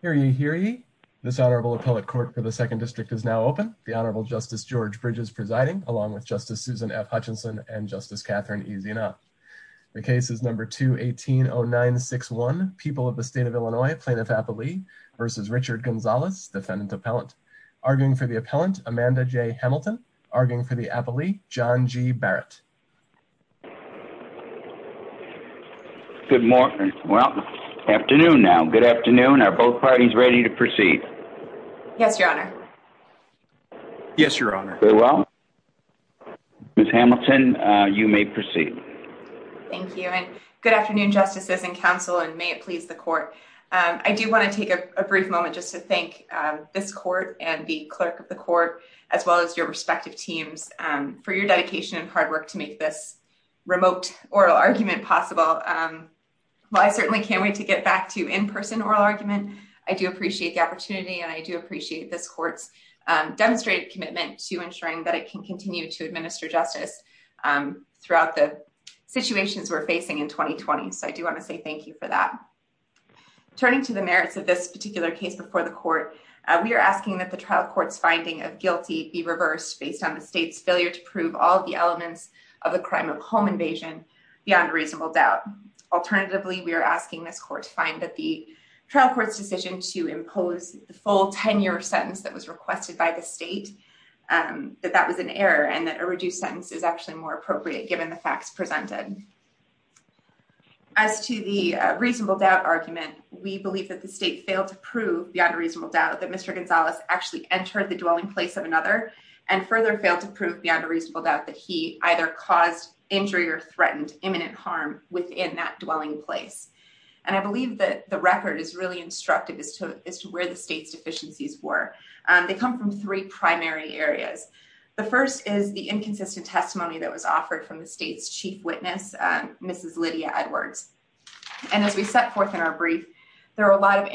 Hear ye, hear ye. This Honorable Appellate Court for the Second District is now open. The Honorable Justice George Bridges presiding, along with Justice Susan F. Hutchinson and Justice Catherine Ezeanoff. The case is number 2180961, People of the State of Illinois, Plaintiff Appellee v. Richard Gonzales, Defendant Appellant. Arguing for the Appellant, Amanda J. Hamilton. Arguing for the Appellee, John G. Barrett. Good morning. Well, afternoon now. Good afternoon. Are both parties ready to proceed? Yes, Your Honor. Yes, Your Honor. Very well. Ms. Hamilton, you may proceed. Thank you, and good afternoon, Justices and Counsel, and may it please the Court. I do want to take a brief moment just to thank this Court and the Clerk of the Court, as well as your respective teams, for your dedication and hard work to make this remote oral argument possible. While I certainly can't wait to get back to in-person oral argument, I do appreciate the opportunity, and I do appreciate this Court's demonstrated commitment to ensuring that it can continue to administer justice throughout the situations we're facing in 2020. So I do want to say thank you for that. Turning to the merits of this particular case before the Court, we are asking that the trial court's finding of be reversed based on the state's failure to prove all the elements of the crime of home invasion beyond reasonable doubt. Alternatively, we are asking this Court to find that the trial court's decision to impose the full 10-year sentence that was requested by the state, that that was an error and that a reduced sentence is actually more appropriate given the facts presented. As to the reasonable doubt argument, we believe that the state failed to prove beyond reasonable doubt that Mr. Gonzalez actually entered the dwelling place of another and further failed to prove beyond a reasonable doubt that he either caused injury or threatened imminent harm within that dwelling place. And I believe that the record is really instructive as to where the state's deficiencies were. They come from three primary areas. The first is the inconsistent testimony that was offered from the state's chief witness, Mrs. Lydia Edwards. And as we set forth in our brief, there are a lot of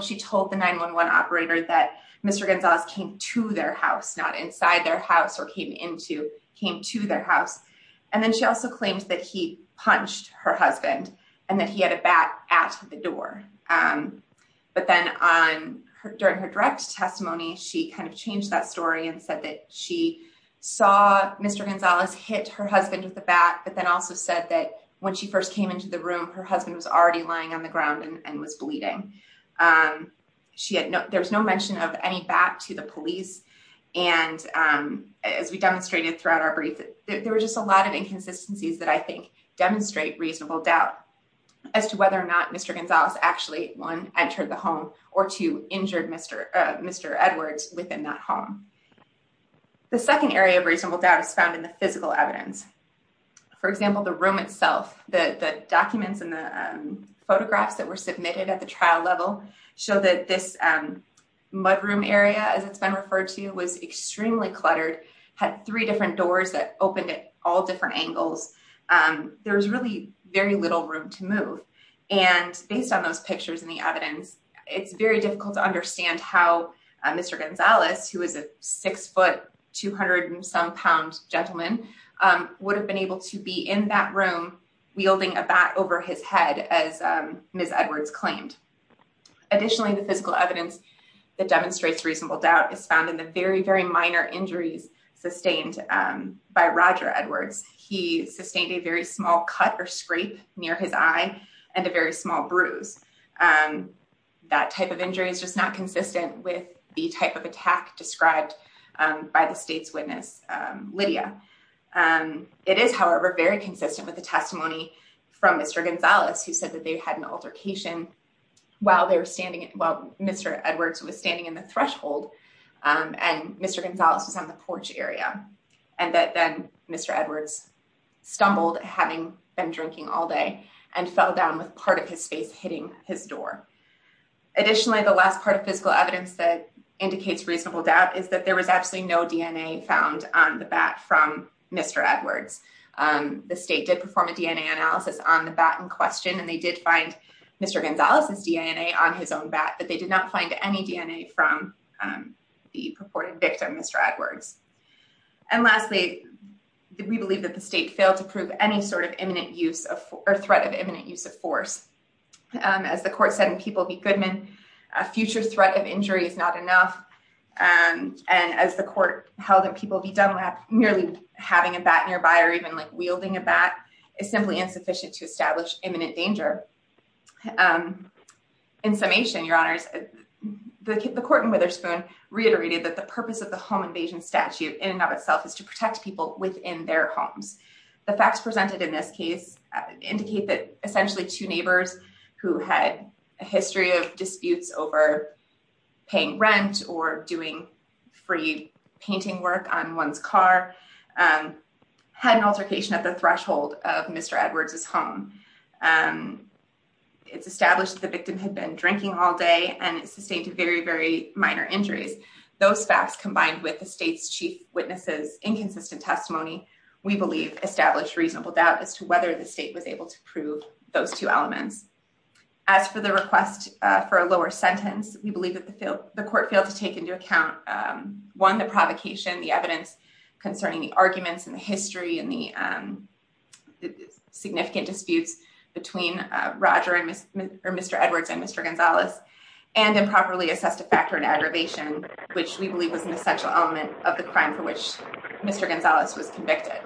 she told the 911 operator that Mr. Gonzalez came to their house, not inside their house or came into came to their house. And then she also claims that he punched her husband and that he had a bat at the door. But then on her during her direct testimony, she kind of changed that story and said that she saw Mr. Gonzalez hit her husband with the bat, but then also said that when she first came into the room, her husband was already lying on the ground and was bleeding. She had no there's no mention of any back to the police. And as we demonstrated throughout our brief, there were just a lot of inconsistencies that I think demonstrate reasonable doubt as to whether or not Mr. Gonzalez actually one entered the home or two injured Mr. Mr. Edwards within that home. The second area of reasonable doubt is found in the physical evidence. For example, the room that were submitted at the trial level show that this, um, mudroom area, as it's been referred to, was extremely cluttered, had three different doors that opened at all different angles. Um, there was really very little room to move. And based on those pictures in the evidence, it's very difficult to understand how Mr. Gonzalez, who is a 6 ft 200 and some pounds gentleman, um, would have been able to be in that room wielding a bat over his head as Ms. Edwards claimed. Additionally, the physical evidence that demonstrates reasonable doubt is found in the very, very minor injuries sustained by Roger Edwards. He sustained a very small cut or scrape near his eye and a very small bruise. Um, that type of injury is just not consistent with the type of attack described by the state's witness, Lydia. Um, it is, however, very consistent with the testimony from Mr Gonzalez, who said that they had an altercation while they were standing. Well, Mr Edwards was standing in the threshold on Mr Gonzalez was on the porch area and that then Mr Edwards stumbled, having been drinking all day and fell down with part of his face hitting his door. Additionally, the last part of physical evidence that indicates reasonable doubt is that there was absolutely no DNA found on the bat from Mr Edwards. Um, the state did perform a DNA analysis on the bat in question, and they did find Mr Gonzalez's DNA on his own bat, but they did not find any DNA from, um, the purported victim, Mr Edwards. And lastly, we believe that the state failed to prove any sort of imminent use of threat of imminent use of force. Um, as the court said in people be Goodman, a future threat of injury is not enough. Um, and as the court held that people be done with merely having a bat nearby or even like wielding a bat is simply insufficient to establish imminent danger. Um, in summation, your honors, the court in Witherspoon reiterated that the purpose of the home invasion statute in and of itself is to protect people within their homes. The facts presented in this case indicate that essentially two neighbors who had a disputes over paying rent or doing free painting work on one's car, um, had an altercation at the threshold of Mr Edwards is home. Um, it's established the victim had been drinking all day and sustained a very, very minor injuries. Those facts, combined with the state's chief witnesses, inconsistent testimony, we believe established reasonable doubt as to for a lower sentence. We believe that the field the court failed to take into account. Um, one, the provocation, the evidence concerning the arguments in the history and the, um, significant disputes between Roger and Mr Edwards and Mr Gonzalez and improperly assessed a factor in aggravation, which we believe was an essential element of the crime for which Mr Gonzalez was convicted.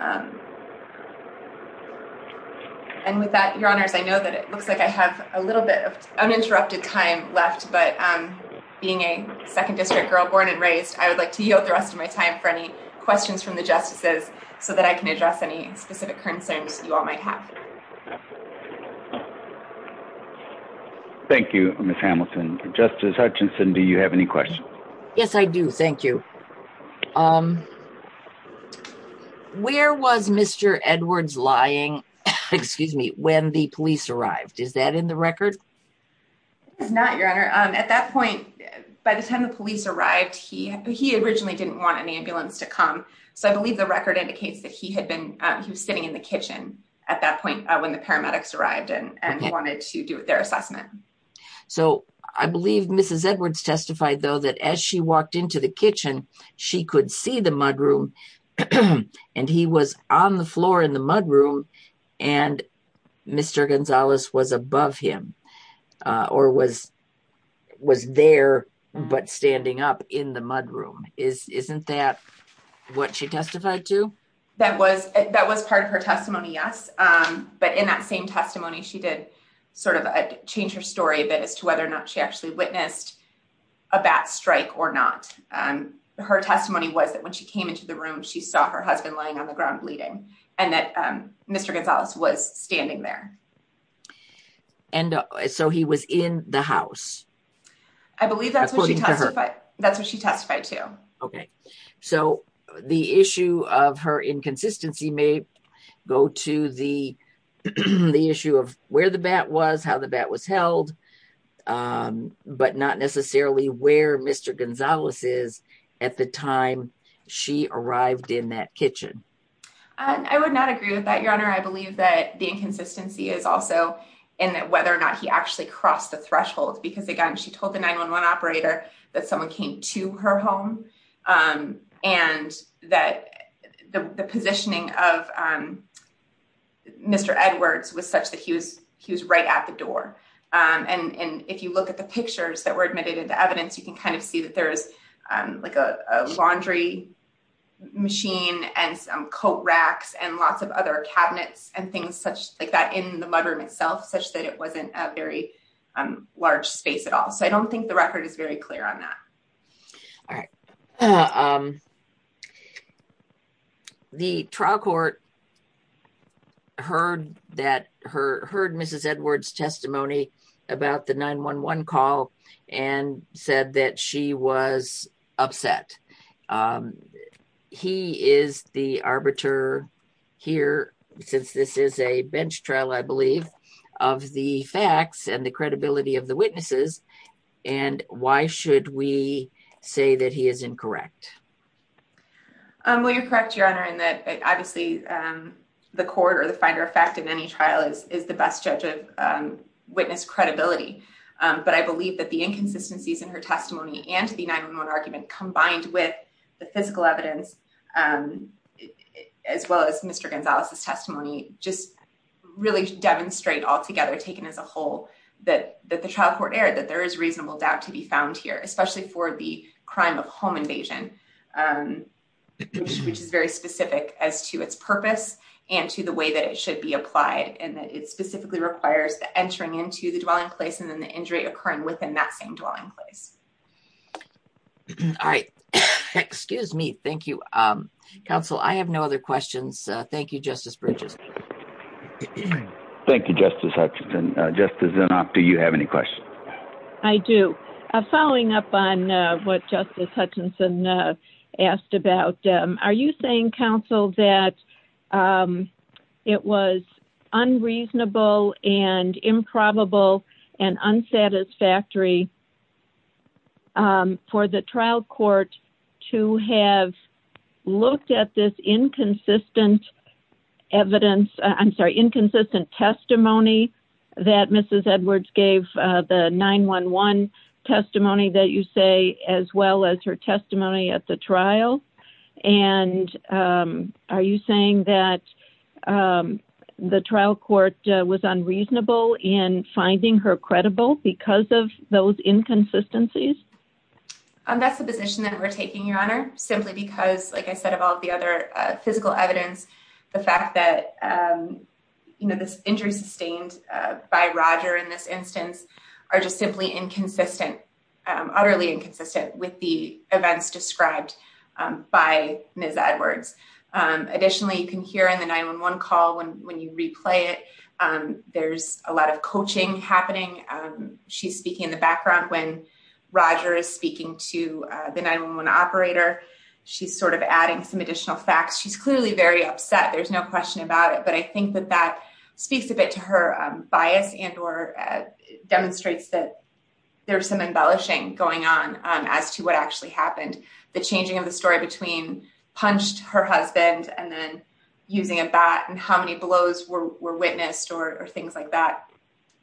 Um, and with that, your honors, I know that it looks like I have a little bit of uninterrupted time left, but, um, being a second district girl born and raised, I would like to yield the rest of my time for any questions from the justices so that I can address any specific concerns you all might have. Thank you, Miss Hamilton. Justice Hutchinson, do you have any questions? Yes, I do. Thank you. Um, where was Mr Edwards lying? Excuse me when the police arrived? Is that in the record? It's not your honor. At that point, by the time the police arrived, he he originally didn't want an ambulance to come. So I believe the record indicates that he had been, he was sitting in the kitchen at that point when the paramedics arrived and he wanted to do their assessment. So I believe Mrs Edwards testified, though, that as she walked into the kitchen, she could see the mudroom and he was on the floor in the mudroom and Mr Gonzalez was above him or was was there but standing up in the mudroom. Isn't that what she testified to? That was that was part of her testimony. Yes. But in that same testimony, she did sort of change her story a bit as to her testimony was that when she came into the room, she saw her husband lying on the ground bleeding and that Mr Gonzalez was standing there. And so he was in the house. I believe that's what she testified. That's what she testified to. Okay. So the issue of her inconsistency may go to the issue of where the bat was, how the bat was held. Um, but not necessarily where Mr Gonzalez is at the time she arrived in that kitchen. I would not agree with that, your honor. I believe that the inconsistency is also in that whether or not he actually crossed the thresholds because again, she told the 911 operator that someone came to her home. Um, and that the positioning of, um, Mr Edwards was such that he was, he was right at the door. Um, and if you look at the pictures that were admitted into evidence, you can kind of see that there is, um, like a laundry machine and some coat racks and lots of other cabinets and things such like that in the mudroom itself, such that it wasn't a very, um, large space at all. So I don't think the record is very clear on that. All right. Um, the trial court heard that her heard Mrs Edwards testimony about the 911 call and said that she was upset. Um, he is the arbiter here since this is a bench trial, I believe of the facts and the credibility of the witnesses. And why should we say that he is incorrect? Um, will you correct your honor and that obviously, um, the court or the finder of fact in any trial is the best judge of witness credibility. Um, but I the 911 argument combined with the physical evidence, um, as well as Mr Gonzalez's testimony, just really demonstrate all together taken as a whole that the trial court aired that there is reasonable doubt to be found here, especially for the crime of home invasion. Um, which is very specific as to its purpose and to the way that it should be applied and that it specifically requires the entering into the dwelling place and then the injury occurring within that same dwelling place. All right. Excuse me. Thank you. Um, counsel, I have no other questions. Thank you, Justice Bridges. Thank you, Justice Hutchinson. Just as enough. Do you have any questions? I do. Following up on what Justice Hutchinson asked about. Are you saying counsel that, um, it was unreasonable and improbable and unsatisfactory? Um, for the trial court to have looked at this inconsistent evidence, I'm sorry, inconsistent testimony that Mrs. Edwards gave the 911 testimony that you say, as well as her testimony at the trial. And, um, are you saying that, um, the trial court was unreasonable in finding her credible because of those inconsistencies? That's the position that we're taking, Your Honor, simply because, like I said of all the other physical evidence, the fact that, um, you know, this injury sustained by Roger in this instance are just simply inconsistent, utterly inconsistent with the events described by Ms. Edwards. Additionally, you can hear in the 911 call when when you replay it, there's a lot of coaching happening. She's speaking in the background. When Roger is speaking to the 911 operator, she's sort of adding some additional facts. She's clearly very upset. There's no question about it. But I think that that speaks a bit to her bias and or demonstrates that there's some embellishing going on as to what actually happened. The changing of the story between punched her husband and then using a bat and how many blows were witnessed or things like that.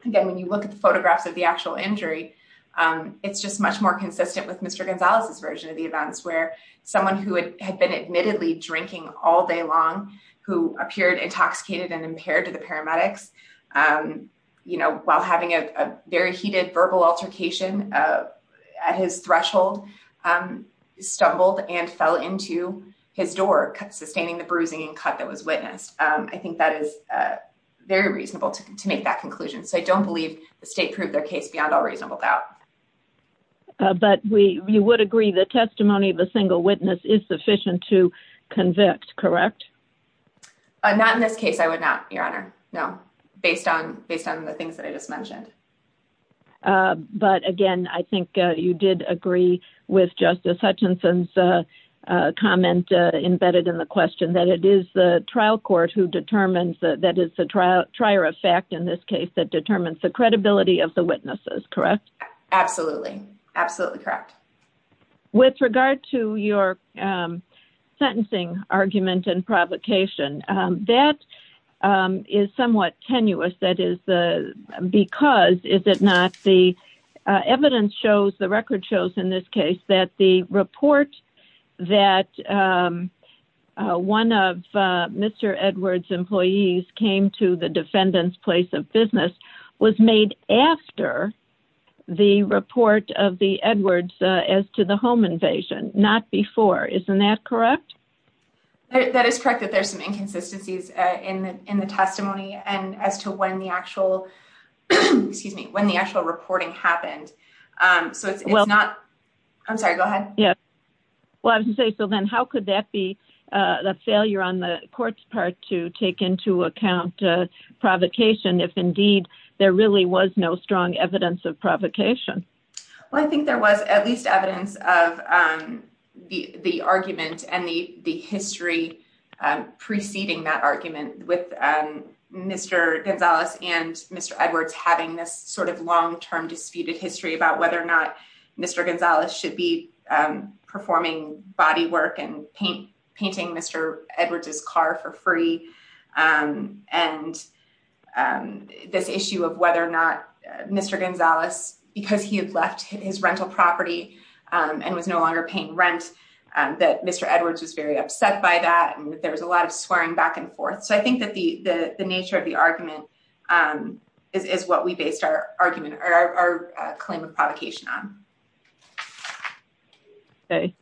Again, when you look at the photographs of the actual injury, it's just much more consistent with Mr Gonzalez's version of the events where someone who had been admittedly drinking all day long, who appeared intoxicated and impaired to the paramedics, um, you know, while having a very heated verbal altercation, uh, at his threshold, um, stumbled and fell into his door, sustaining the bruising and cut that was witnessed. I think that is very reasonable to make that conclusion. So I don't believe the state proved their case beyond all reasonable doubt. But we you would agree the testimony of the single witness is sufficient to convict. Correct? Not in this case. I would not, Your Honor. No, based on based on the things that I just mentioned. Uh, but again, I think you did agree with Justice Hutchinson's comment embedded in the question that it is the trial court who determines that it's a trial trier of fact in this case that determines the credibility of the witnesses. Correct? Absolutely. Absolutely. Correct. With regard to your, um, sentencing argument and provocation, that, um, is somewhat tenuous. That is the because, is it not? The evidence shows the record shows in this case that the report that, um, uh, one of Mr Edwards employees came to the defendant's place of business was made after the report of the Edwards as to the home invasion. Not before. Isn't that correct? That is correct that there's some inconsistencies in in the testimony and as to when the actual excuse me when the actual reporting happened. Um, so it's not. I'm sorry. Go ahead. Yeah. Well, I would say so. Then how could that be a failure on the court's part to take into account provocation if indeed there really was no strong evidence of provocation? Well, I think there was at least evidence of, um, the argument and the history preceding that argument with Mr Gonzalez and Mr Edwards having this sort of long term disputed history about whether or not Mr Gonzalez should be, um, performing body work and paint painting Mr Edwards's car for free. Um, and, um, this issue of whether or not Mr Gonzalez, because he had left his rental property, um, and was no longer paying rent, um, that Mr Edwards was very upset by that. And there was a lot of swearing back and Um, is what we based our argument or our claim of provocation on. Okay.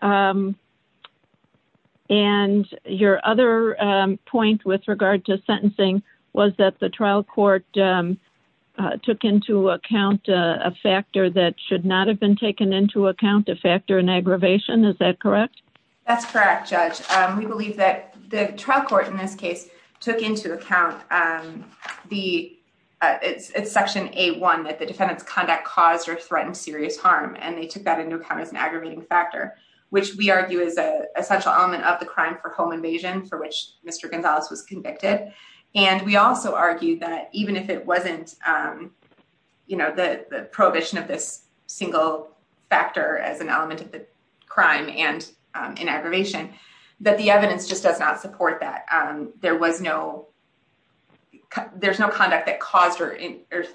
Um, and your other point with regard to sentencing was that the trial court, um, took into account a factor that should not have been taken into account. A factor in aggravation. Is that correct? That's correct, Judge. We believe that the trial court in this case took into account, um, the it's section a one that the defendant's conduct caused or threatened serious harm. And they took that into account as an aggravating factor, which we argue is a essential element of the crime for home invasion for which Mr Gonzalez was convicted. And we also argue that even if it wasn't, um, you know, the prohibition of this single factor as an element of the crime and in aggravation that the evidence just does not support that there was no there's no conduct that caused or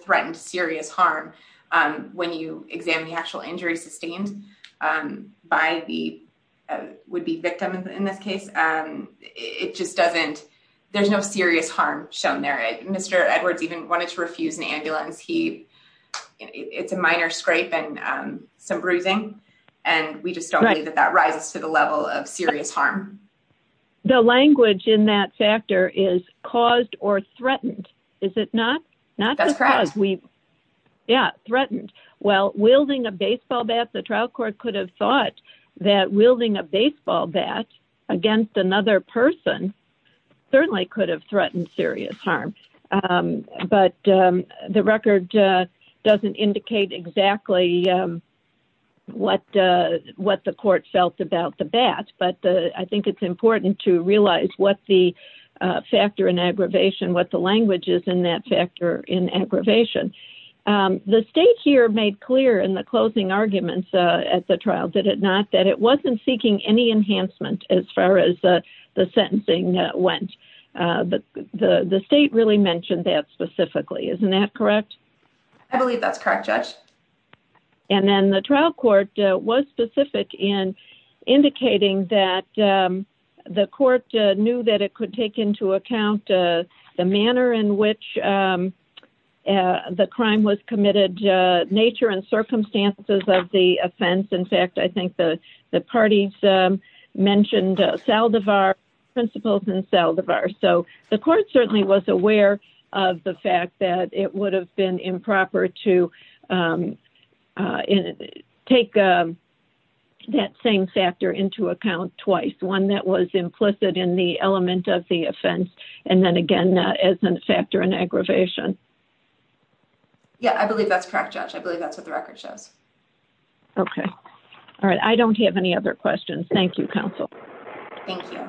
threatened serious harm. Um, when you examine the actual injury sustained by the would be victim in this case, it just doesn't. There's no serious harm shown there. Mr Edwards even wanted to refuse an ambulance. He it's a minor scrape and some bruising, and we just don't believe that that rises to the level of serious harm. The language in that factor is caused or threatened. Is it not? Not that's correct. We Yeah, threatened. Well, wielding a baseball bat, the trial court could have thought that wielding a baseball bat against another person certainly could have threatened serious harm. Um, but, um, the record doesn't indicate exactly, um, what what the court felt about the bat. But I think it's important to realize what the factor in aggravation, what the language is in that factor in aggravation. Um, the state here made clear in the closing arguments at the trial. Did it not that it wasn't seeking any enhancement as far as the sentencing went? But the state really mentioned that specifically. Isn't that correct? I believe that's correct, Judge. And then the trial court was specific in indicating that, um, the court knew that it could take into account the manner in which, um, uh, the crime was committed nature and circumstances of the offense. In fact, I think the parties mentioned Saldivar principles in Saldivar. So the court certainly was aware of the fact that it would have been improper to, um, uh, take, um, that same factor into account twice. One that was implicit in the element of the offense. And then again, as a factor in aggravation. Yeah, I believe that's correct, Judge. I believe that's what the record shows. Okay. All right. I don't have any other questions. Thank you, Council. Thank you.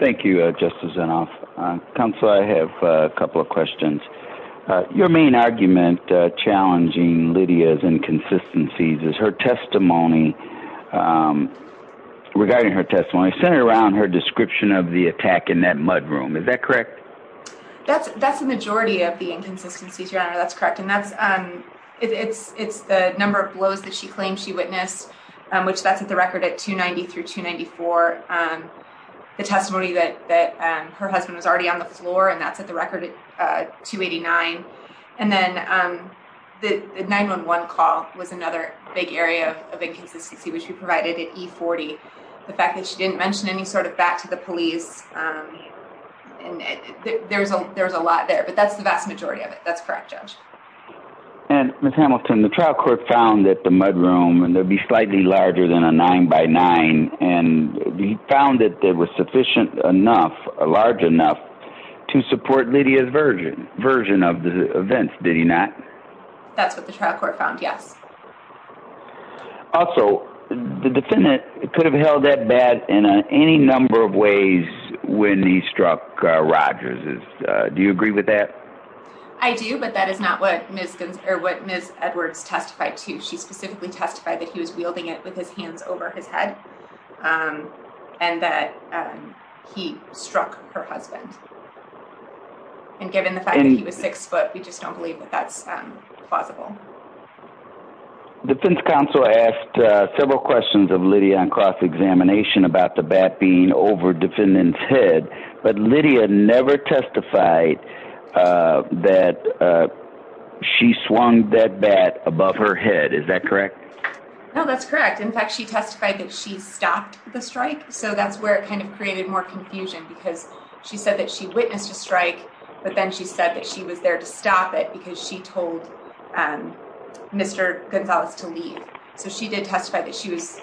Thank you, Justice. Enough. Council. I have a couple of questions. Your main argument challenging Lydia's inconsistencies is her testimony. Um, regarding her testimony centered around her description of the attack in that mudroom. Is that correct? That's that's the majority of the inconsistencies. Your honor. That's correct. And that's, um, it's it's the number of blows that she claims she witnessed, which that's at the record at 2 93 to 94. Um, the testimony that that her husband was already on the floor, and that's at the record 289. And then, um, the 911 call was another big area of inconsistency, which we provided at 40. The fact that she didn't mention any sort of back to the police. Um, and there's a there's a lot there, but that's the vast majority of it. That's correct, Judge. And Hamilton, the trial court found that the mudroom and they'll be slightly larger than a nine by nine. And we found that there was sufficient enough large enough to support Lydia's virgin version of the events. Did he not? That's what the trial court found. Yes. Also, the defendant could have held that bad in any number of ways when he struck Rogers. Do you agree with that? I do. But that is not what Miss or what Miss Edwards testified to. She specifically testified that he was wielding it with his hands over his head. Um, and that, um, he struck her husband and given the fact that he was six foot, we just don't believe that that's possible. Defense counsel asked several questions of Lydia on cross examination about the bat being over defendant's head. But Lydia never testified, uh, that, uh, she swung that bat above her head. Is that correct? No, that's correct. In fact, she testified that she stopped the strike. So that's where it kind of created more confusion because she said that she witnessed a strike. But then she said that she was there to stop it because she told, um, Mr Gonzalez to leave. So she did testify that she was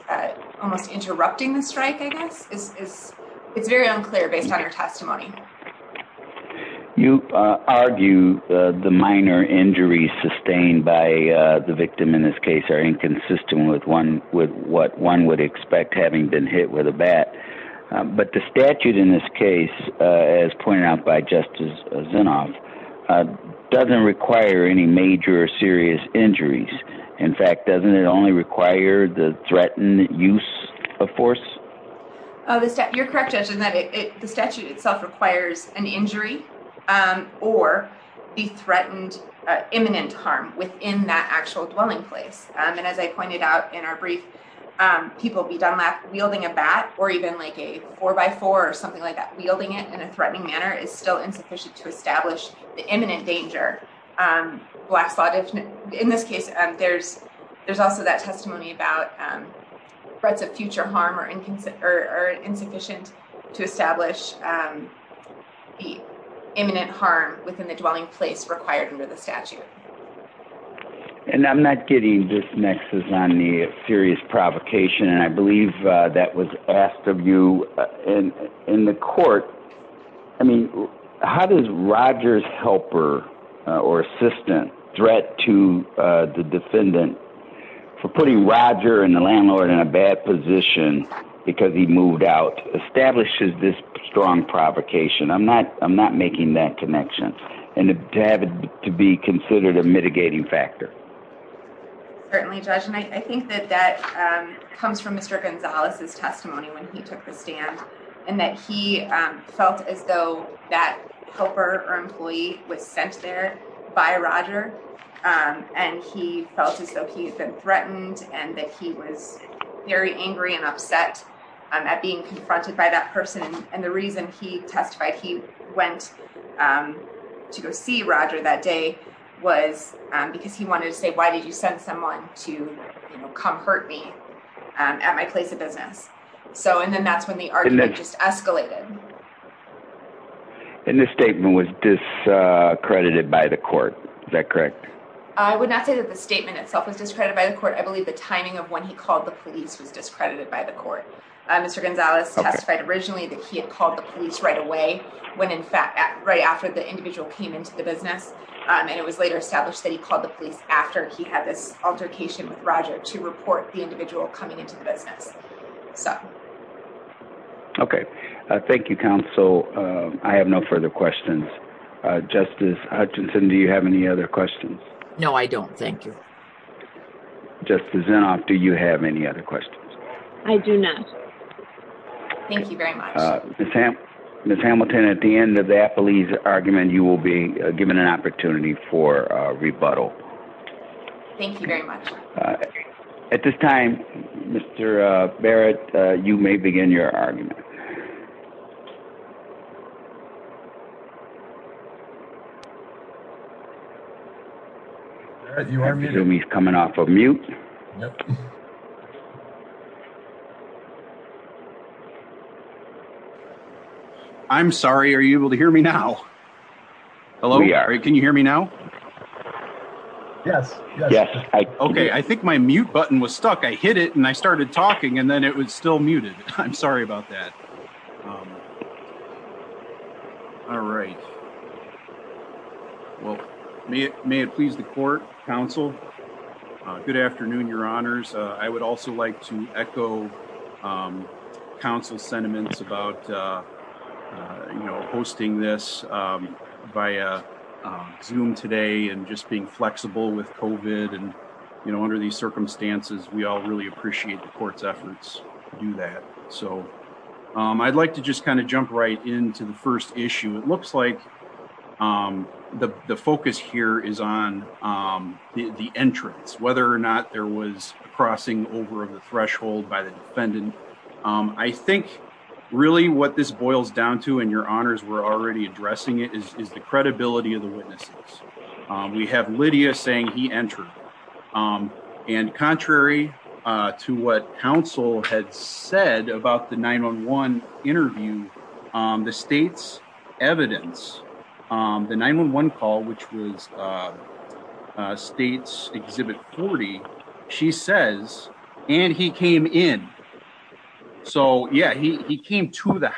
almost interrupting the strike. I guess is it's very unclear based on her testimony. You argue the minor injuries sustained by the victim in this case are inconsistent with one with what one would expect having been hit with a bat. But the statute in this case, as pointed out by Justice Zinoff, uh, doesn't require any major serious injuries. In fact, doesn't it only require the threatened use of force? Oh, you're correct. Judging that the statute itself requires an injury, um, or be threatened. Imminent harm within that actual dwelling place. And as I pointed out in our brief, um, people be done lack wielding a bat or even like a four by four or something like that. Wielding it in a threatening manner is still insufficient to establish the imminent danger. Um, black slot. In this case, there's there's also that testimony about, um, threats of future harm or or insufficient to establish, um, the imminent harm within the dwelling place required under the statute. And I'm not getting this nexus on the serious provocation, and I believe that was asked of you in in the court. I mean, how does Roger's helper or assistant threat to the defendant for putting Roger and the landlord in a bad position because he moved out establishes this strong provocation? I'm not. I'm not making that connection and to have it to be considered a mitigating factor. Certainly, Judge. And I think that that comes from Mr Gonzalez's testimony when he took the stand and that he felt as though that helper or employee was sent there by Roger. Um, and he felt as though he had been threatened and that he was very angry and upset at being confronted by that person. And the reason he testified he went, um, to go see Roger that day was because he wanted to say, Why did you send someone to come hurt me at my place of business? So and then that's when the argument just escalated. And this statement was discredited by the court. Is that correct? I would not say that the statement itself was discredited by the court. I believe the one he called the police was discredited by the court. Mr Gonzalez testified originally that he had called the police right away when, in fact, right after the individual came into the business, and it was later established that he called the police after he had this altercation with Roger to report the individual coming into the business. So okay. Thank you, Council. I have no further questions. Justice Hutchinson. Do you have any other questions? No, I don't. Thank you. Justice in off. Do you have any other questions? I do not. Thank you very much, Sam. Miss Hamilton. At the end of that police argument, you will be given an opportunity for rebuttal. Thank you very much. At this time, Mr Barrett, you may begin your argument. You are coming off of mute. I'm sorry. Are you able to hear me now? Hello. Can you hear me now? Yes. Okay. I think my mute button was stuck. I hit it, and I started talking, and then it was still muted. I'm sorry about that. All right. Well, may it please the court, Council. Good afternoon, your honors. I would also like to echo Council's sentiments about hosting this via Zoom today and just being flexible with COVID. Under these circumstances, we all really appreciate the court's efforts to do that. So I'd like to just kind of jump right into the first issue. It looks like the focus here is on the entrance, whether or not there was a crossing over of the threshold by the defendant. I think really what this boils down to, and your honors were already addressing it, is the credibility of the witnesses. We have Lydia saying he entered. And contrary to what Council had said about the 911 interview, the state's evidence, the 911 call, which was state's Exhibit 40, she says, and he came in. So yeah, he came to the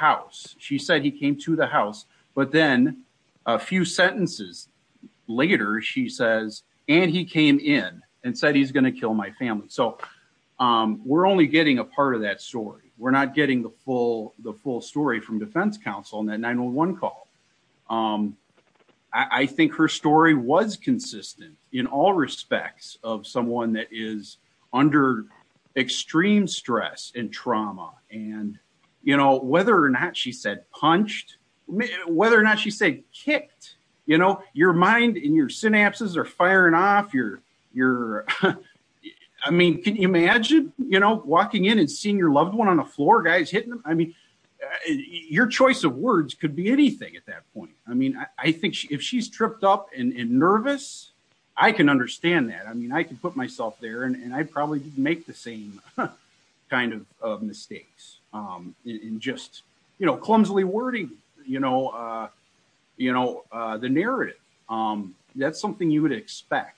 later, she says, and he came in and said he's going to kill my family. So we're only getting a part of that story. We're not getting the full story from Defense Council on that 911 call. I think her story was consistent in all respects of someone that is under extreme stress and trauma. And you know, whether or not she said punched, whether or not she said kicked, you know, your mind and your synapses are firing off your, your, I mean, can you imagine, you know, walking in and seeing your loved one on the floor guys hitting them? I mean, your choice of words could be anything at that point. I mean, I think if she's tripped up and nervous, I can understand that. I mean, I can put myself there and just, you know, clumsily wording, you know, you know, the narrative. That's something you would expect.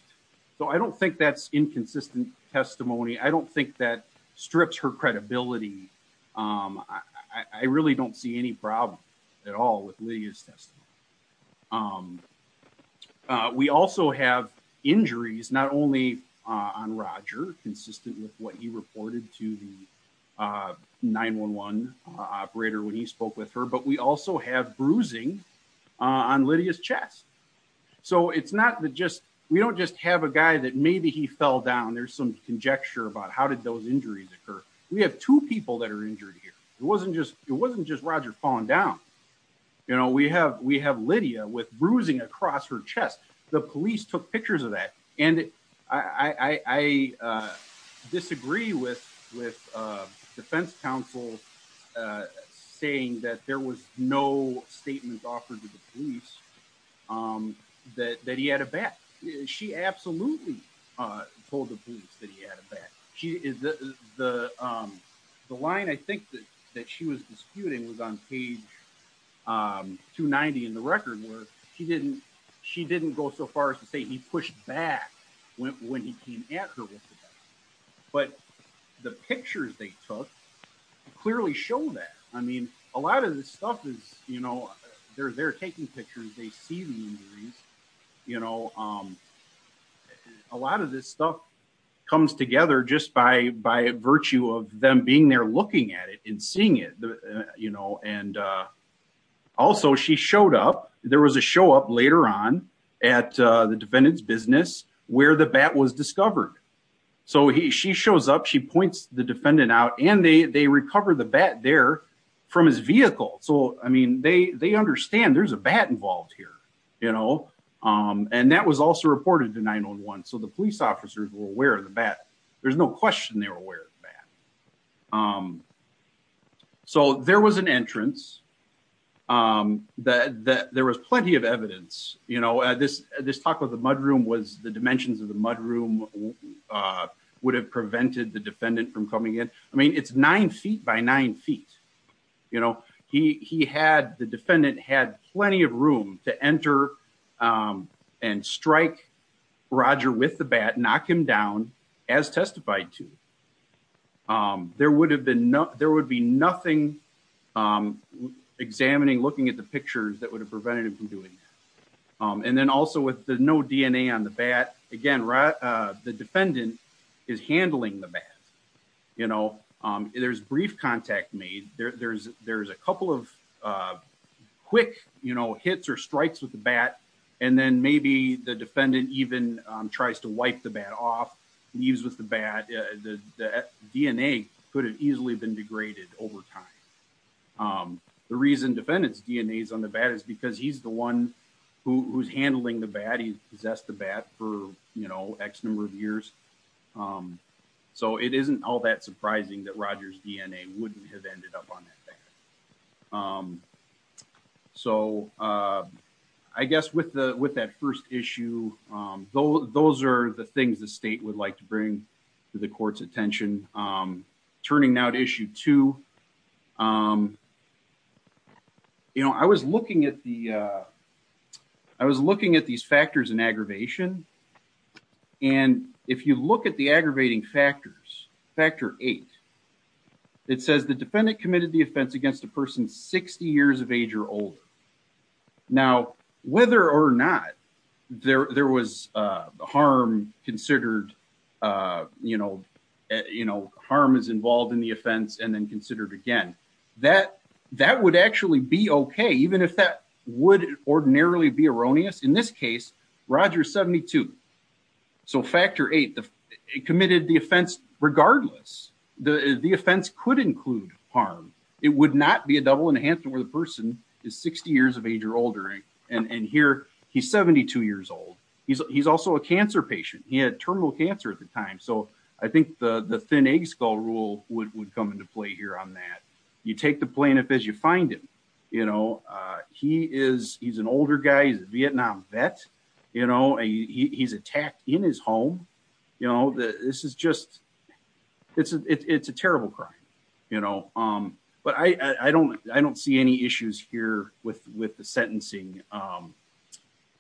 So I don't think that's inconsistent testimony. I don't think that strips her credibility. I really don't see any problem at all with Lydia's testimony. We also have injuries, not only on Roger consistent with what he reported to the 911 operator when he spoke with her, but we also have bruising on Lydia's chest. So it's not that just, we don't just have a guy that maybe he fell down. There's some conjecture about how did those injuries occur? We have two people that are injured here. It wasn't just, it wasn't just Roger falling down. You know, we have, we have Lydia with bruising across her chest. The police took pictures of that. And I, I, uh, disagree with, with, uh, defense counsel, uh, saying that there was no statements offered to the police, um, that, that he had a bat. She absolutely, uh, told the police that he had a bat. She is the, um, the line, I think that, that she was disputing was on page, um, two 90 in the record where he didn't, she didn't go so far as to say he pushed back when, when he came at her with the bat, but the pictures they took clearly show that. I mean, a lot of this stuff is, you know, they're, they're taking pictures. They see the injuries, you know, um, a lot of this stuff comes together just by, by virtue of them being there, looking at it and seeing it, you know, and, uh, also she showed up, there was a show up later on at, uh, the defendant's business where the bat was discovered. So he, she shows up, she points the defendant out and they, they recovered the bat there from his vehicle. So, I mean, they, they understand there's a bat involved here, you know? Um, and that was also reported to 911. So the police officers were aware of the bat. There's no question. They were um, so there was an entrance, um, that, that there was plenty of evidence, you know, this, this talk of the mudroom was the dimensions of the mudroom, uh, would have prevented the defendant from coming in. I mean, it's nine feet by nine feet. You know, he, he had, the defendant had plenty of room to enter, um, and strike Roger with the bat, knock him down as testified to. Um, there would have been no, there would be nothing, um, examining, looking at the pictures that would have prevented him from doing that. Um, and then also with the no DNA on the bat again, uh, the defendant is handling the bat, you know, um, there's brief contact made there, there's, there's a couple of, uh, quick, you know, hits or um, tries to wipe the bat off, leaves with the bat. Uh, the, the DNA could have easily been degraded over time. Um, the reason defendant's DNA is on the bat is because he's the one who who's handling the bat. He possessed the bat for, you know, X number of years. Um, so it isn't all that surprising that Roger's DNA wouldn't have ended up on that bat. Um, so, uh, I guess with the, with that first issue, um, those are the things the state would like to bring to the court's attention. Um, turning now to issue two, um, you know, I was looking at the, uh, I was looking at these factors in aggravation. And if you look at the aggravating factors, factor eight, it says the defendant committed the there, there was, uh, harm considered, uh, you know, you know, harm is involved in the offense and then considered again, that that would actually be okay. Even if that would ordinarily be erroneous in this case, Roger 72. So factor eight, the committed the offense, regardless, the offense could include harm, it would not be a double enhancement where the person is 60 years of age or older. And, and here he's 72 years old. He's, he's also a cancer patient. He had terminal cancer at the time. So I think the, the thin egg skull rule would, would come into play here on that. You take the plaintiff as you find him, you know, uh, he is, he's an older guy, he's a Vietnam vet, you know, he's attacked in his home. You know, this is just, it's a, it's a terrible crime, you with the sentencing, um,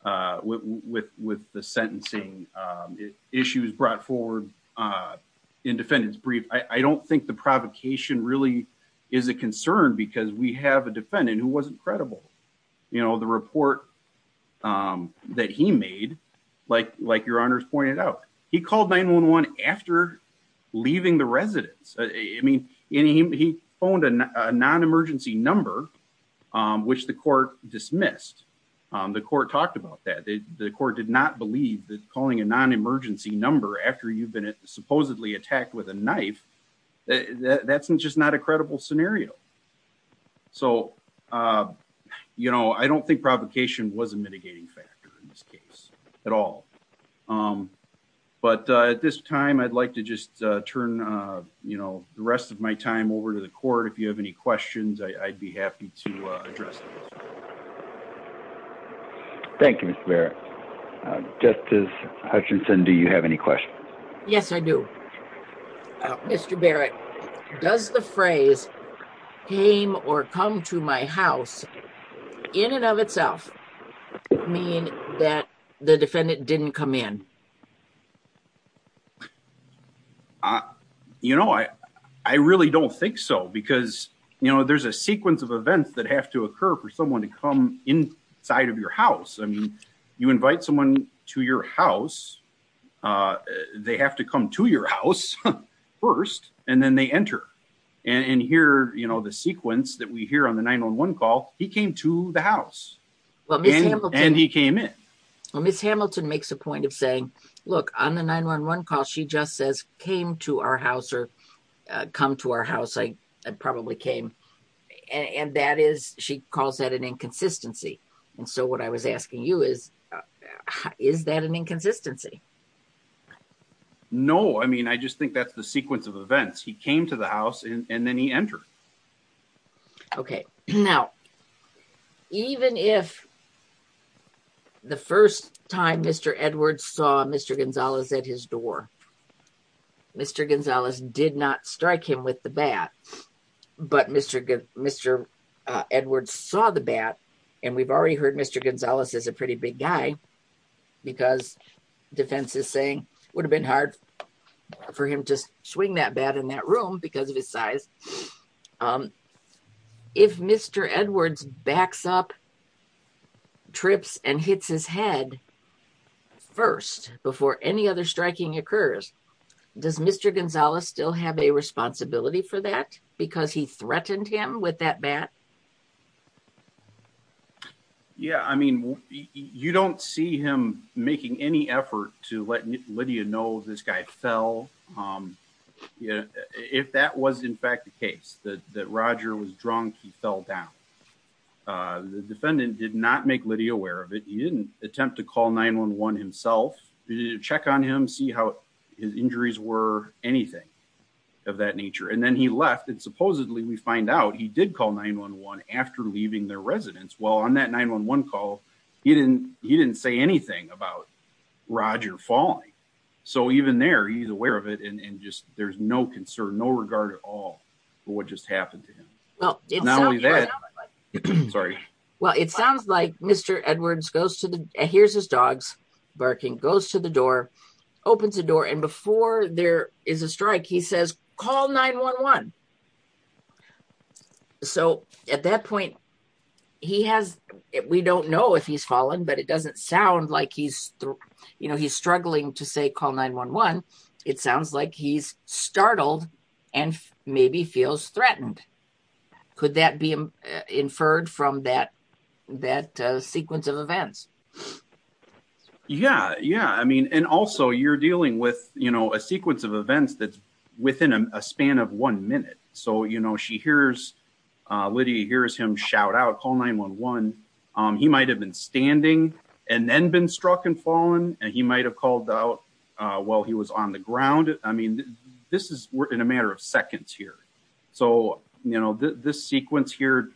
uh, with, with, with the sentencing, um, issues brought forward, uh, in defendants brief, I don't think the provocation really is a concern because we have a defendant who wasn't credible, you know, the report. Um, that he made like, like your honors pointed out, he called nine one, one after leaving the residence. I mean, he phoned a non-emergency number, um, which the court dismissed. Um, the court talked about that. They, the court did not believe that calling a non-emergency number after you've been supposedly attacked with a knife, that that's just not a credible scenario. So, uh, you know, I don't think provocation was a mitigating factor in this case at all. Um, but, uh, at this time I'd like to just, uh, turn, uh, you know, the rest of my time over to the court. If you have any questions, I I'd be happy to address them. Thank you, Mr. Barrett. Justice Hutchinson. Do you have any questions? Yes, I do. Mr. Barrett, does the phrase came or come to my house in and of itself mean that the defendant didn't come in? Uh, you know, I, I really don't think so because, you know, there's a sequence of events that have to occur for someone to come inside of your house. I mean, you invite someone to your house. Uh, they have to come to your house first and then they enter and hear, you know, the sequence that we hear on the 911 call, he came to the house and he came in, well, miss Hamilton makes a point of saying, look on the 911 call. She just says, came to our house or, uh, come to our house. I probably came. And that is, she calls that an inconsistency. And so what I was asking you is, uh, is that an inconsistency? No. I mean, I just think that's the sequence of events. He came to the house and then he entered. Okay. Now, even if the first time Mr. Edwards saw Mr. Gonzalez at his door, Mr. Gonzalez did not strike him with the bat, but Mr. Good, Mr. Uh, Edward saw the bat and we've already heard Mr. Gonzalez is a pretty big guy because defense is saying would have been hard for him to swing that bat in that room because of his size. Um, if Mr. Edwards backs up trips and hits his head first, before any other striking occurs, does Mr. Gonzalez still have a responsibility for that? Because he threatened him with that bat. Yeah. I mean, you don't see him making any effort to let Lydia know this guy fell. Um, you know, if that was in fact the case that, that Roger was drunk, he fell down. Uh, the defendant did not make Lydia aware of it. He didn't attempt to call nine one, one himself, check on him, see how his injuries were, anything of that nature. And then he left and supposedly we find out he did call nine one, one after leaving their residence. Well, on that nine one, one call, he didn't, he didn't say anything about Roger falling. So even there, he's aware of it. And just, there's no concern, no regard at all for what just happened to him. Well, not only that, sorry. Well, it sounds like Mr. Edwards goes to the, here's his dogs barking, goes to the door, opens the door. And before there is a strike, he says, call nine one, one. So at that point he has, we don't know if he's fallen, but it doesn't sound like he's, you know, he's struggling to say call nine one, one, it sounds like he's startled and maybe feels threatened. Could that be inferred from that, that sequence of events? Yeah. Yeah. I mean, and also you're dealing with, you know, a sequence of events that's within a span of one minute. So, you know, she hears, uh, Lydia hears him shout out call nine one, one. Um, he might've been standing and then been struck and fallen and he might've called out, uh, while he was on the ground. I mean, this is, we're in a matter of seconds here. So, you know, the, this sequence here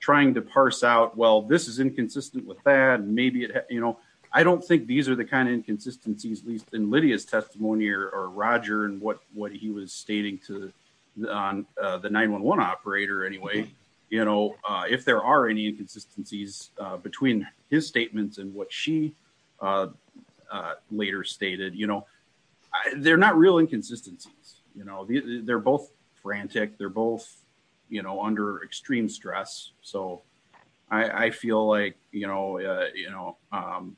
trying to parse out, well, this is inconsistent with that and maybe it, you know, I don't think these are the kind of inconsistencies at least in Lydia's testimony or Roger and what, what he was stating to the, on the nine one, one operator anyway, you know, uh, if there are any inconsistencies, uh, between his statements and what she, uh, uh, later stated, you know, they're not real inconsistencies, you know, they're both frantic, they're both, you know, under extreme stress. So I feel like, you know, uh, you know, um,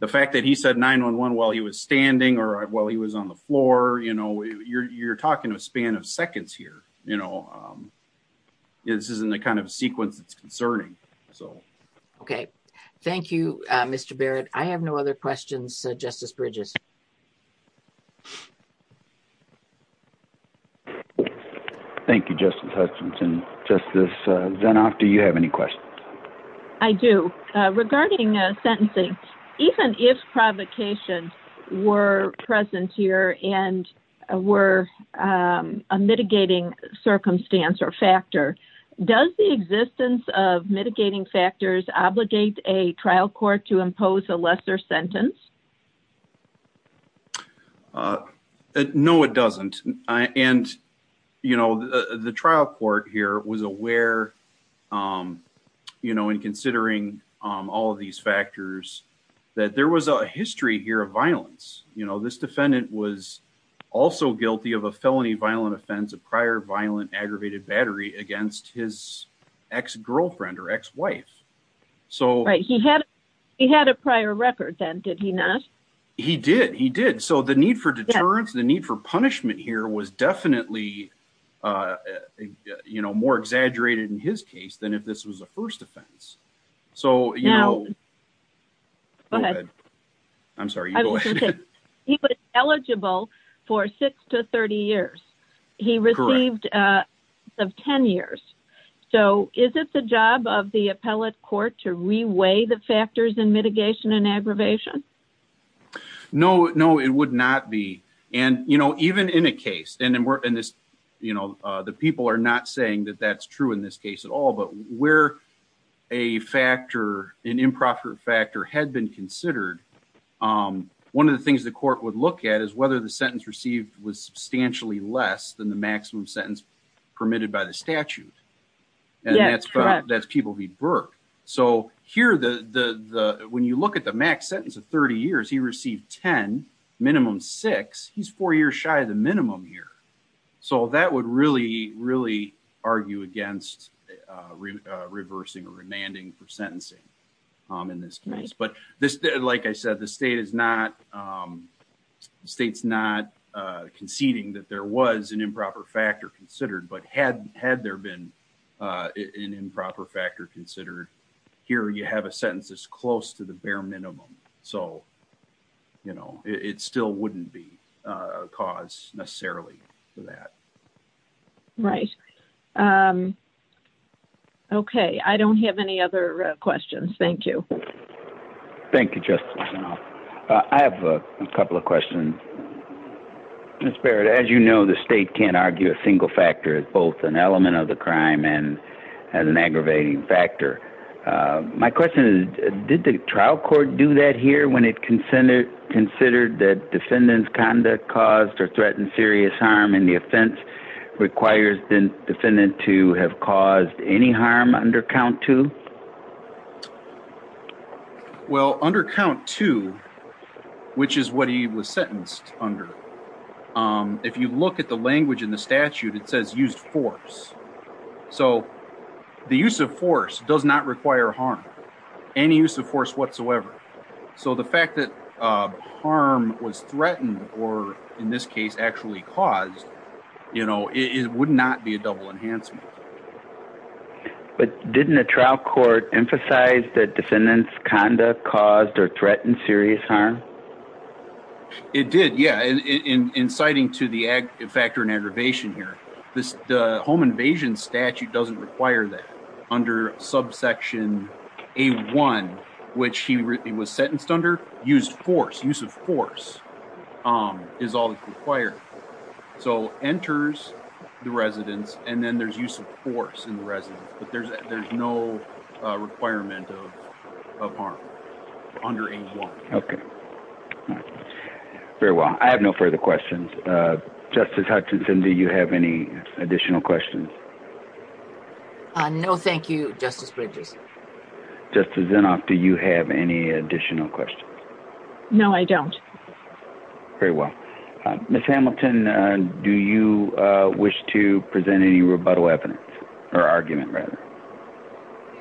the fact that he said nine one, one while he was standing or while he was on the floor, you know, you're, you're talking to a span of seconds here. You know, um, yeah, this isn't the kind of sequence that's concerning. So, okay. Thank you, Mr. Barrett. I have no other questions. So justice Bridges. Thank you, Justin Hutchinson. Just this, uh, then after you have any questions I do, uh, regarding, uh, sentencing, even if provocation were present here and, uh, were, um, uh, mitigating circumstance or factor, does the existence of mitigating factors obligate a trial court to impose a lesser sentence? Uh, no, it doesn't. I, and you know, the trial court here was aware. Um, you know, in considering, um, all of these factors that there was a history here of violence. You know, this defendant was also guilty of a felony, violent offense, a prior violent aggravated battery against his ex-girlfriend or ex-wife. So he had, he had a prior record then. Did he not? He did. He did. So the need for deterrence, the need for punishment here was definitely, uh, you know, more exaggerated in his case than if this was a first offense. So, you know, I'm sorry. He was eligible for six to 30 years. He received, uh, of 10 years. So is it the job of the appellate court to reweigh the factors in mitigation and aggravation? No, no, it would not be. And, you know, even in a case and then we're in this, you know, uh, the people are not saying that that's true in this case at all, but where a factor, an things the court would look at is whether the sentence received was substantially less than the maximum sentence permitted by the statute. And that's, that's people who work. So here, the, the, the, when you look at the max sentence of 30 years, he received 10, minimum six, he's four years shy of the minimum here. So that would really, really argue against, uh, reversing or remanding for sentencing, um, in this case. But this, like I said, the state is not, um, state's not, uh, conceding that there was an improper factor considered, but had, had there been a, an improper factor considered here, you have a sentence that's close to the bare minimum, so, you know, it still wouldn't be a cause necessarily for that. Right. Um, okay. I don't have any other questions. Thank you. Thank you. Just, uh, I have a couple of questions. Ms. Barrett, as you know, the state can't argue a single factor is both an element of the crime and as an aggravating factor, uh, my question is, did the trial court do that here? When it consented considered that defendants conduct caused or threatened serious harm in the offense requires the defendant to have caused any harm under count to Well, under count to, which is what he was sentenced under, um, if you look at the language in the statute, it says used force. So the use of force does not require harm, any use of force whatsoever. So the fact that, uh, harm was threatened or in this case actually caused, you know, it would not be a double enhancement. But didn't a trial court do that? Court emphasized that defendants conduct caused or threatened serious harm. It did. Yeah. And in, in, in citing to the ag factor and aggravation here, this, the home invasion statute doesn't require that under subsection a one, which he was sentenced under used force. Use of force, um, is all that's required. So enters the residents and then there's use of force in the residence, but there's, there's no requirement of, of harm under age one. Okay. Very well. I have no further questions. Uh, justice Hutchinson, do you have any additional questions? Uh, no, thank you. Justice Bridges. Justice Zinoff. Do you have any additional questions? No, I don't. Very well. Ms. Hamilton, uh, do you, uh, wish to present any rebuttal evidence or argument? Rather.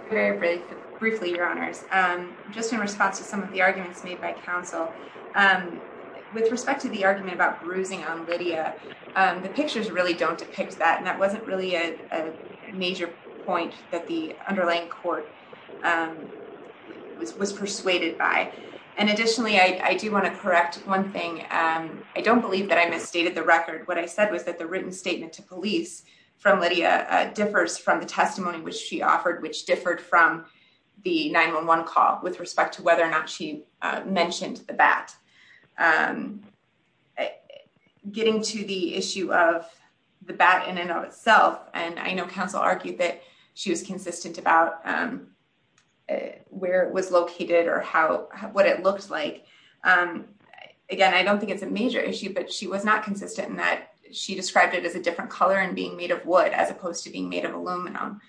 Very briefly, your honors. Um, just in response to some of the arguments made by counsel, um, with respect to the argument about bruising on Lydia, um, the pictures really don't depict that, and that wasn't really a major point that the underlying court, um, was, was persuaded by. And additionally, I, I do want to correct one thing. Um, I don't believe that I misstated the record. What I said was that the written statement to police from Lydia, uh, the testimony, which she offered, which differed from the 911 call with respect to whether or not she mentioned the bat, um, getting to the issue of the bat in and of itself. And I know counsel argued that she was consistent about, um, where it was located or how, what it looked like. Um, again, I don't think it's a major issue, but she was not consistent in that she described it as a different color and being made of wood as opposed to being made of aluminum.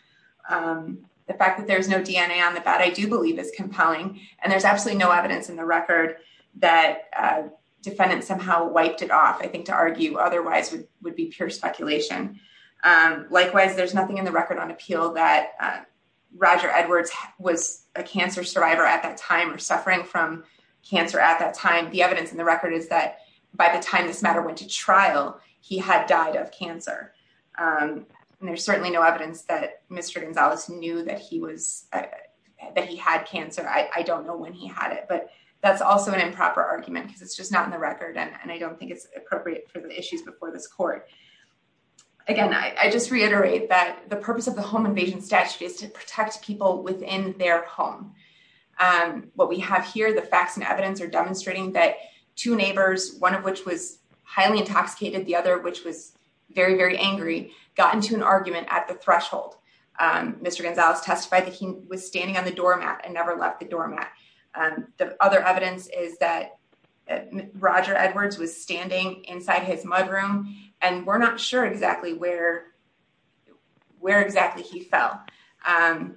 Um, the fact that there's no DNA on the bat, I do believe is compelling and there's absolutely no evidence in the record that a defendant somehow wiped it off, I think to argue otherwise would be pure speculation. Um, likewise, there's nothing in the record on appeal that, uh, Roger Edwards was a cancer survivor at that time or suffering from cancer at that time. The evidence in the record is that by the time this matter went to trial, he had died of cancer. Um, and there's certainly no evidence that Mr. Gonzalez knew that he was, that he had cancer. I don't know when he had it, but that's also an improper argument because it's just not in the record. And I don't think it's appropriate for the issues before this court. Again, I just reiterate that the purpose of the home invasion statute is to protect people within their home. Um, what we have here, the facts and evidence are demonstrating that two neighbors, one of which was highly intoxicated, the other, which was very, very angry, gotten to an argument at the threshold. Um, Mr. Gonzalez testified that he was standing on the doormat and never left the doormat. Um, the other evidence is that Roger Edwards was standing inside his mudroom and we're not sure exactly where, where exactly he fell, um,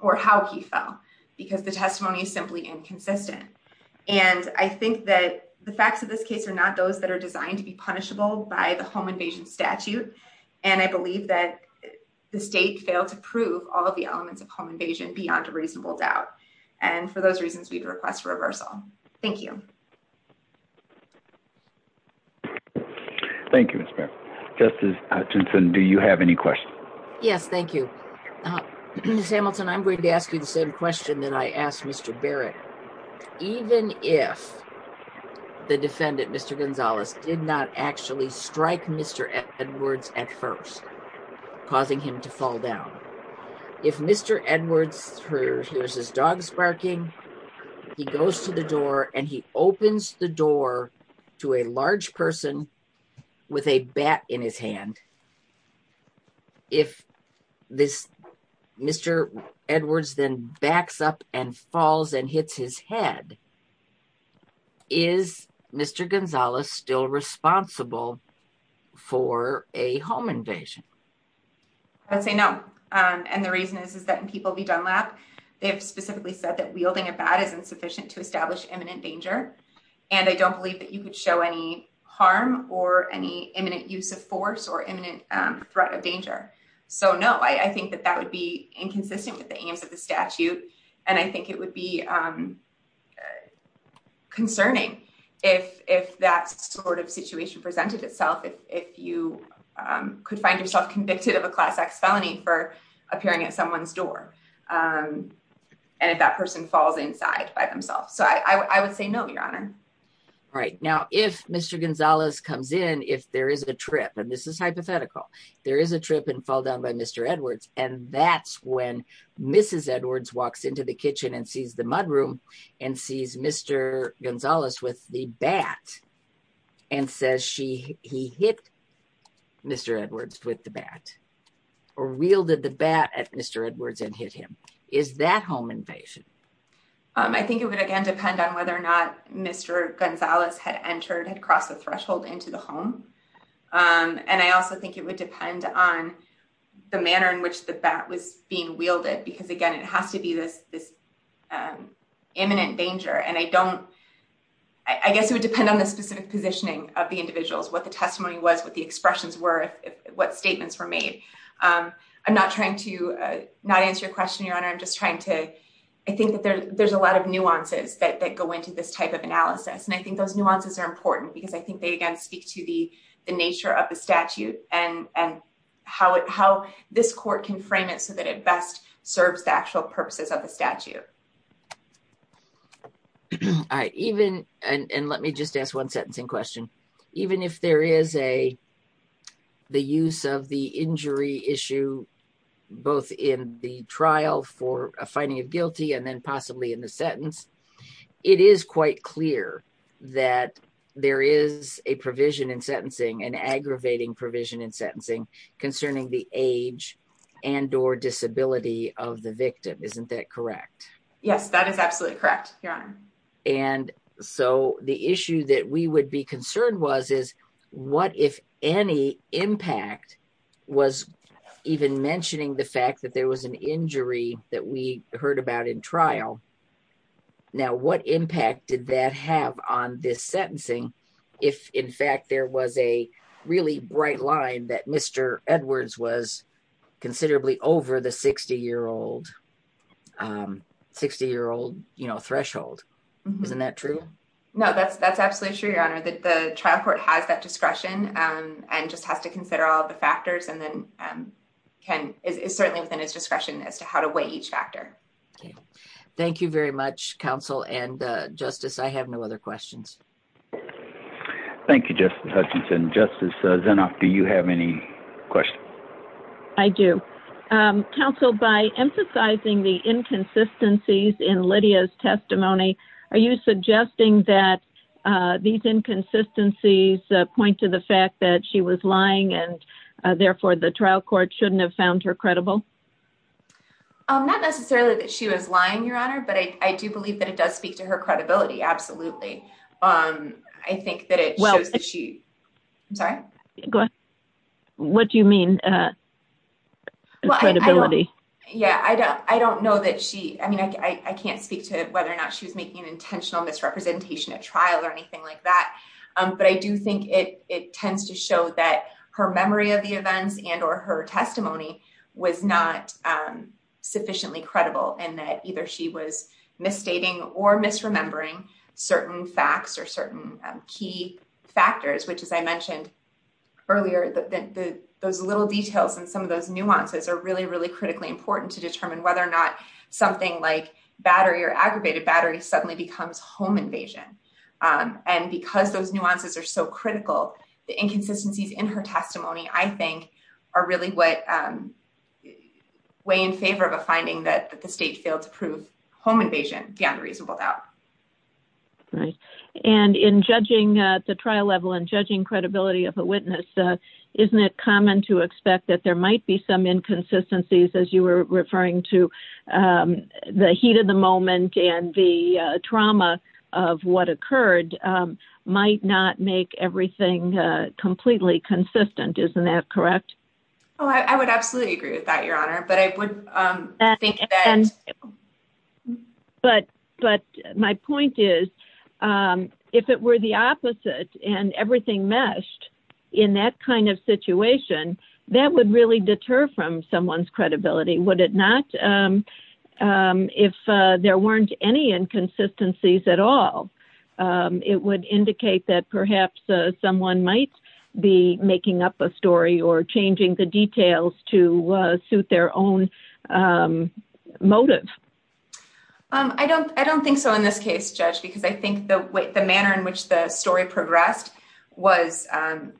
or how he fell because the testimony is simply inconsistent. And I think that the facts of this case are not those that are designed to be invasion statute. And I believe that the state failed to prove all of the elements of home invasion beyond a reasonable doubt. And for those reasons, we'd request reversal. Thank you. Thank you, Mr. Justice Hutchinson. Do you have any questions? Yes. Thank you. Samuelson. Barrett, even if the defendant, Mr. Edwards at first causing him to fall down, if Mr. Edwards hears his dog sparking, he goes to the door and he opens the door to a large person with a bat in his hand. If this Mr. Edwards then backs up and falls and hits his head, is Mr. Gonzalez still responsible for a home invasion? I'd say no. Um, and the reason is, is that in people be done lap, they have specifically said that wielding a bat is insufficient to establish imminent danger. And I don't believe that you could show any harm or any imminent use of force or imminent threat of danger. So no, I think that that would be inconsistent with the aims of the that sort of situation presented itself. If, if you, um, could find yourself convicted of a class X felony for appearing at someone's door. Um, and if that person falls inside by themselves. So I w I would say no, your honor. Right now, if Mr. Gonzalez comes in, if there is a trip and this is hypothetical, there is a trip and fall down by Mr. Edwards. And that's when Mrs. Edwards walks into the kitchen and sees the mud room and sees Mr. Gonzalez with the bat and says, she, he hit Mr. Edwards with the bat or wielded the bat at Mr. Edwards and hit him. Is that home invasion? Um, I think it would, again, depend on whether or not Mr. Gonzalez had entered, had crossed the threshold into the home. Um, and I also think it would depend on the manner in which the bat was being wielded, because again, it has to be this, this, um, imminent danger. And I don't, I guess it would depend on the specific positioning of the individuals, what the testimony was, what the expressions were, what statements were made. Um, I'm not trying to, uh, not answer your question, your honor. I'm just trying to, I think that there, there's a lot of nuances that, that go into this type of analysis. And I think those nuances are important because I think they, again, speak to the, the nature of the statute and, and how, how this court can frame it so that it best serves the actual purposes of the statute. All right. Even, and let me just ask one sentencing question. Even if there is a, the use of the injury issue, both in the trial for a finding of guilty and then possibly in the sentence, it is quite clear that there is a provision in sentencing, an aggravating provision in sentencing concerning the age and or disability of the victim. Isn't that correct? Yes, that is absolutely correct. Your honor. And so the issue that we would be concerned was, is what if any impact was even mentioning the fact that there was an injury that we heard about in trial? Now, what impact did that have on this sentencing? If in fact, there was a really bright line that Mr. Edwards was considerably over the 60 year old, um, 60 year old, you know, isn't that true? No, that's, that's absolutely true. Your honor, that the trial court has that discretion, um, and just has to consider all the factors and then, um, can is certainly within his discretion as to how to weigh each factor. Thank you very much. Counsel and, uh, justice. I have no other questions. Thank you, Justice Hutchinson. Justice Zenoff, do you have any questions? I do, um, counsel by emphasizing the inconsistencies in Lydia's are you suggesting that, uh, these inconsistencies, uh, point to the fact that she was lying and, uh, therefore the trial court shouldn't have found her credible, um, not necessarily that she was lying your honor, but I do believe that it does speak to her credibility. Absolutely. Um, I think that it shows that she, I'm sorry, what do you mean? Uh, yeah, I don't, I don't know that she, I mean, I, I can't speak to whether or not she was making an intentional misrepresentation at trial or anything like that. Um, but I do think it, it tends to show that her memory of the events and, or her testimony was not, um, sufficiently credible and that either she was misstating or misremembering certain facts or certain key factors, which, as I mentioned earlier, the, the, those little details and some of those nuances are really, really critically important to determine whether or not something like battery or aggravated battery suddenly becomes home invasion. Um, and because those nuances are so critical, the inconsistencies in her testimony, I think are really what, um, way in favor of a finding that the state failed to prove home invasion beyond reasonable doubt. Right. And in judging the trial level and judging credibility of a witness, uh, isn't it common to expect that there might be some inconsistencies as you were referring to, um, the heat of the moment and the, uh, trauma of what occurred, um, might not make everything, uh, completely consistent. Isn't that correct? Oh, I would absolutely agree with that, your honor. But I would, um, but, but my point is, um, if it were the opposite and everything meshed in that kind of situation, that would really deter from someone's credibility. Would it not? Um, um, if, uh, there weren't any inconsistencies at all, um, it would indicate that perhaps someone might be making up a story or changing the details to, uh, suit their own, um, motive. Um, I don't, I don't think so in this case judge, because I think the way, the manner in which the story progressed was, um,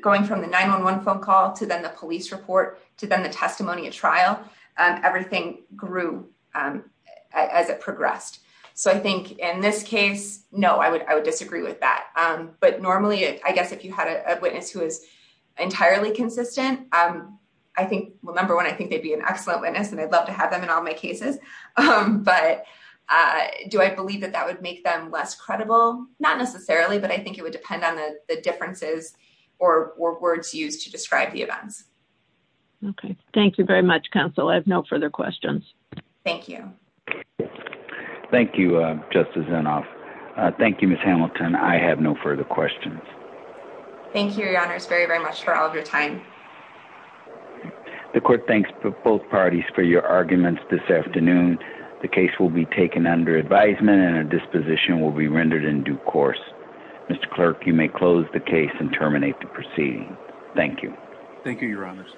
going from the 911 phone call to then the police report to them, the testimony at trial, um, everything grew, um, as it progressed. So I think in this case, no, I would, I would disagree with that. Um, but normally I guess if you had a witness who is entirely consistent, um, I think, well, number one, I think they'd be an excellent witness and I'd love to have them in all my cases. Um, but, uh, do I believe that that would make them less credible? Not necessarily, but I think it would depend on the differences or words used to describe the events. Okay. Thank you very much. Counsel. I have no further questions. Thank you. Thank you. Uh, justice and off. Uh, thank you, miss Hamilton. I have no further questions. Thank you. Your honor is very, very much for all of your time. The court. Thanks for both parties for your arguments this afternoon. The case will be taken under advisement and a disposition will be rendered in due course. Mr. Clerk, you may close the case and terminate the proceeding. Thank you. Thank you. Your honors.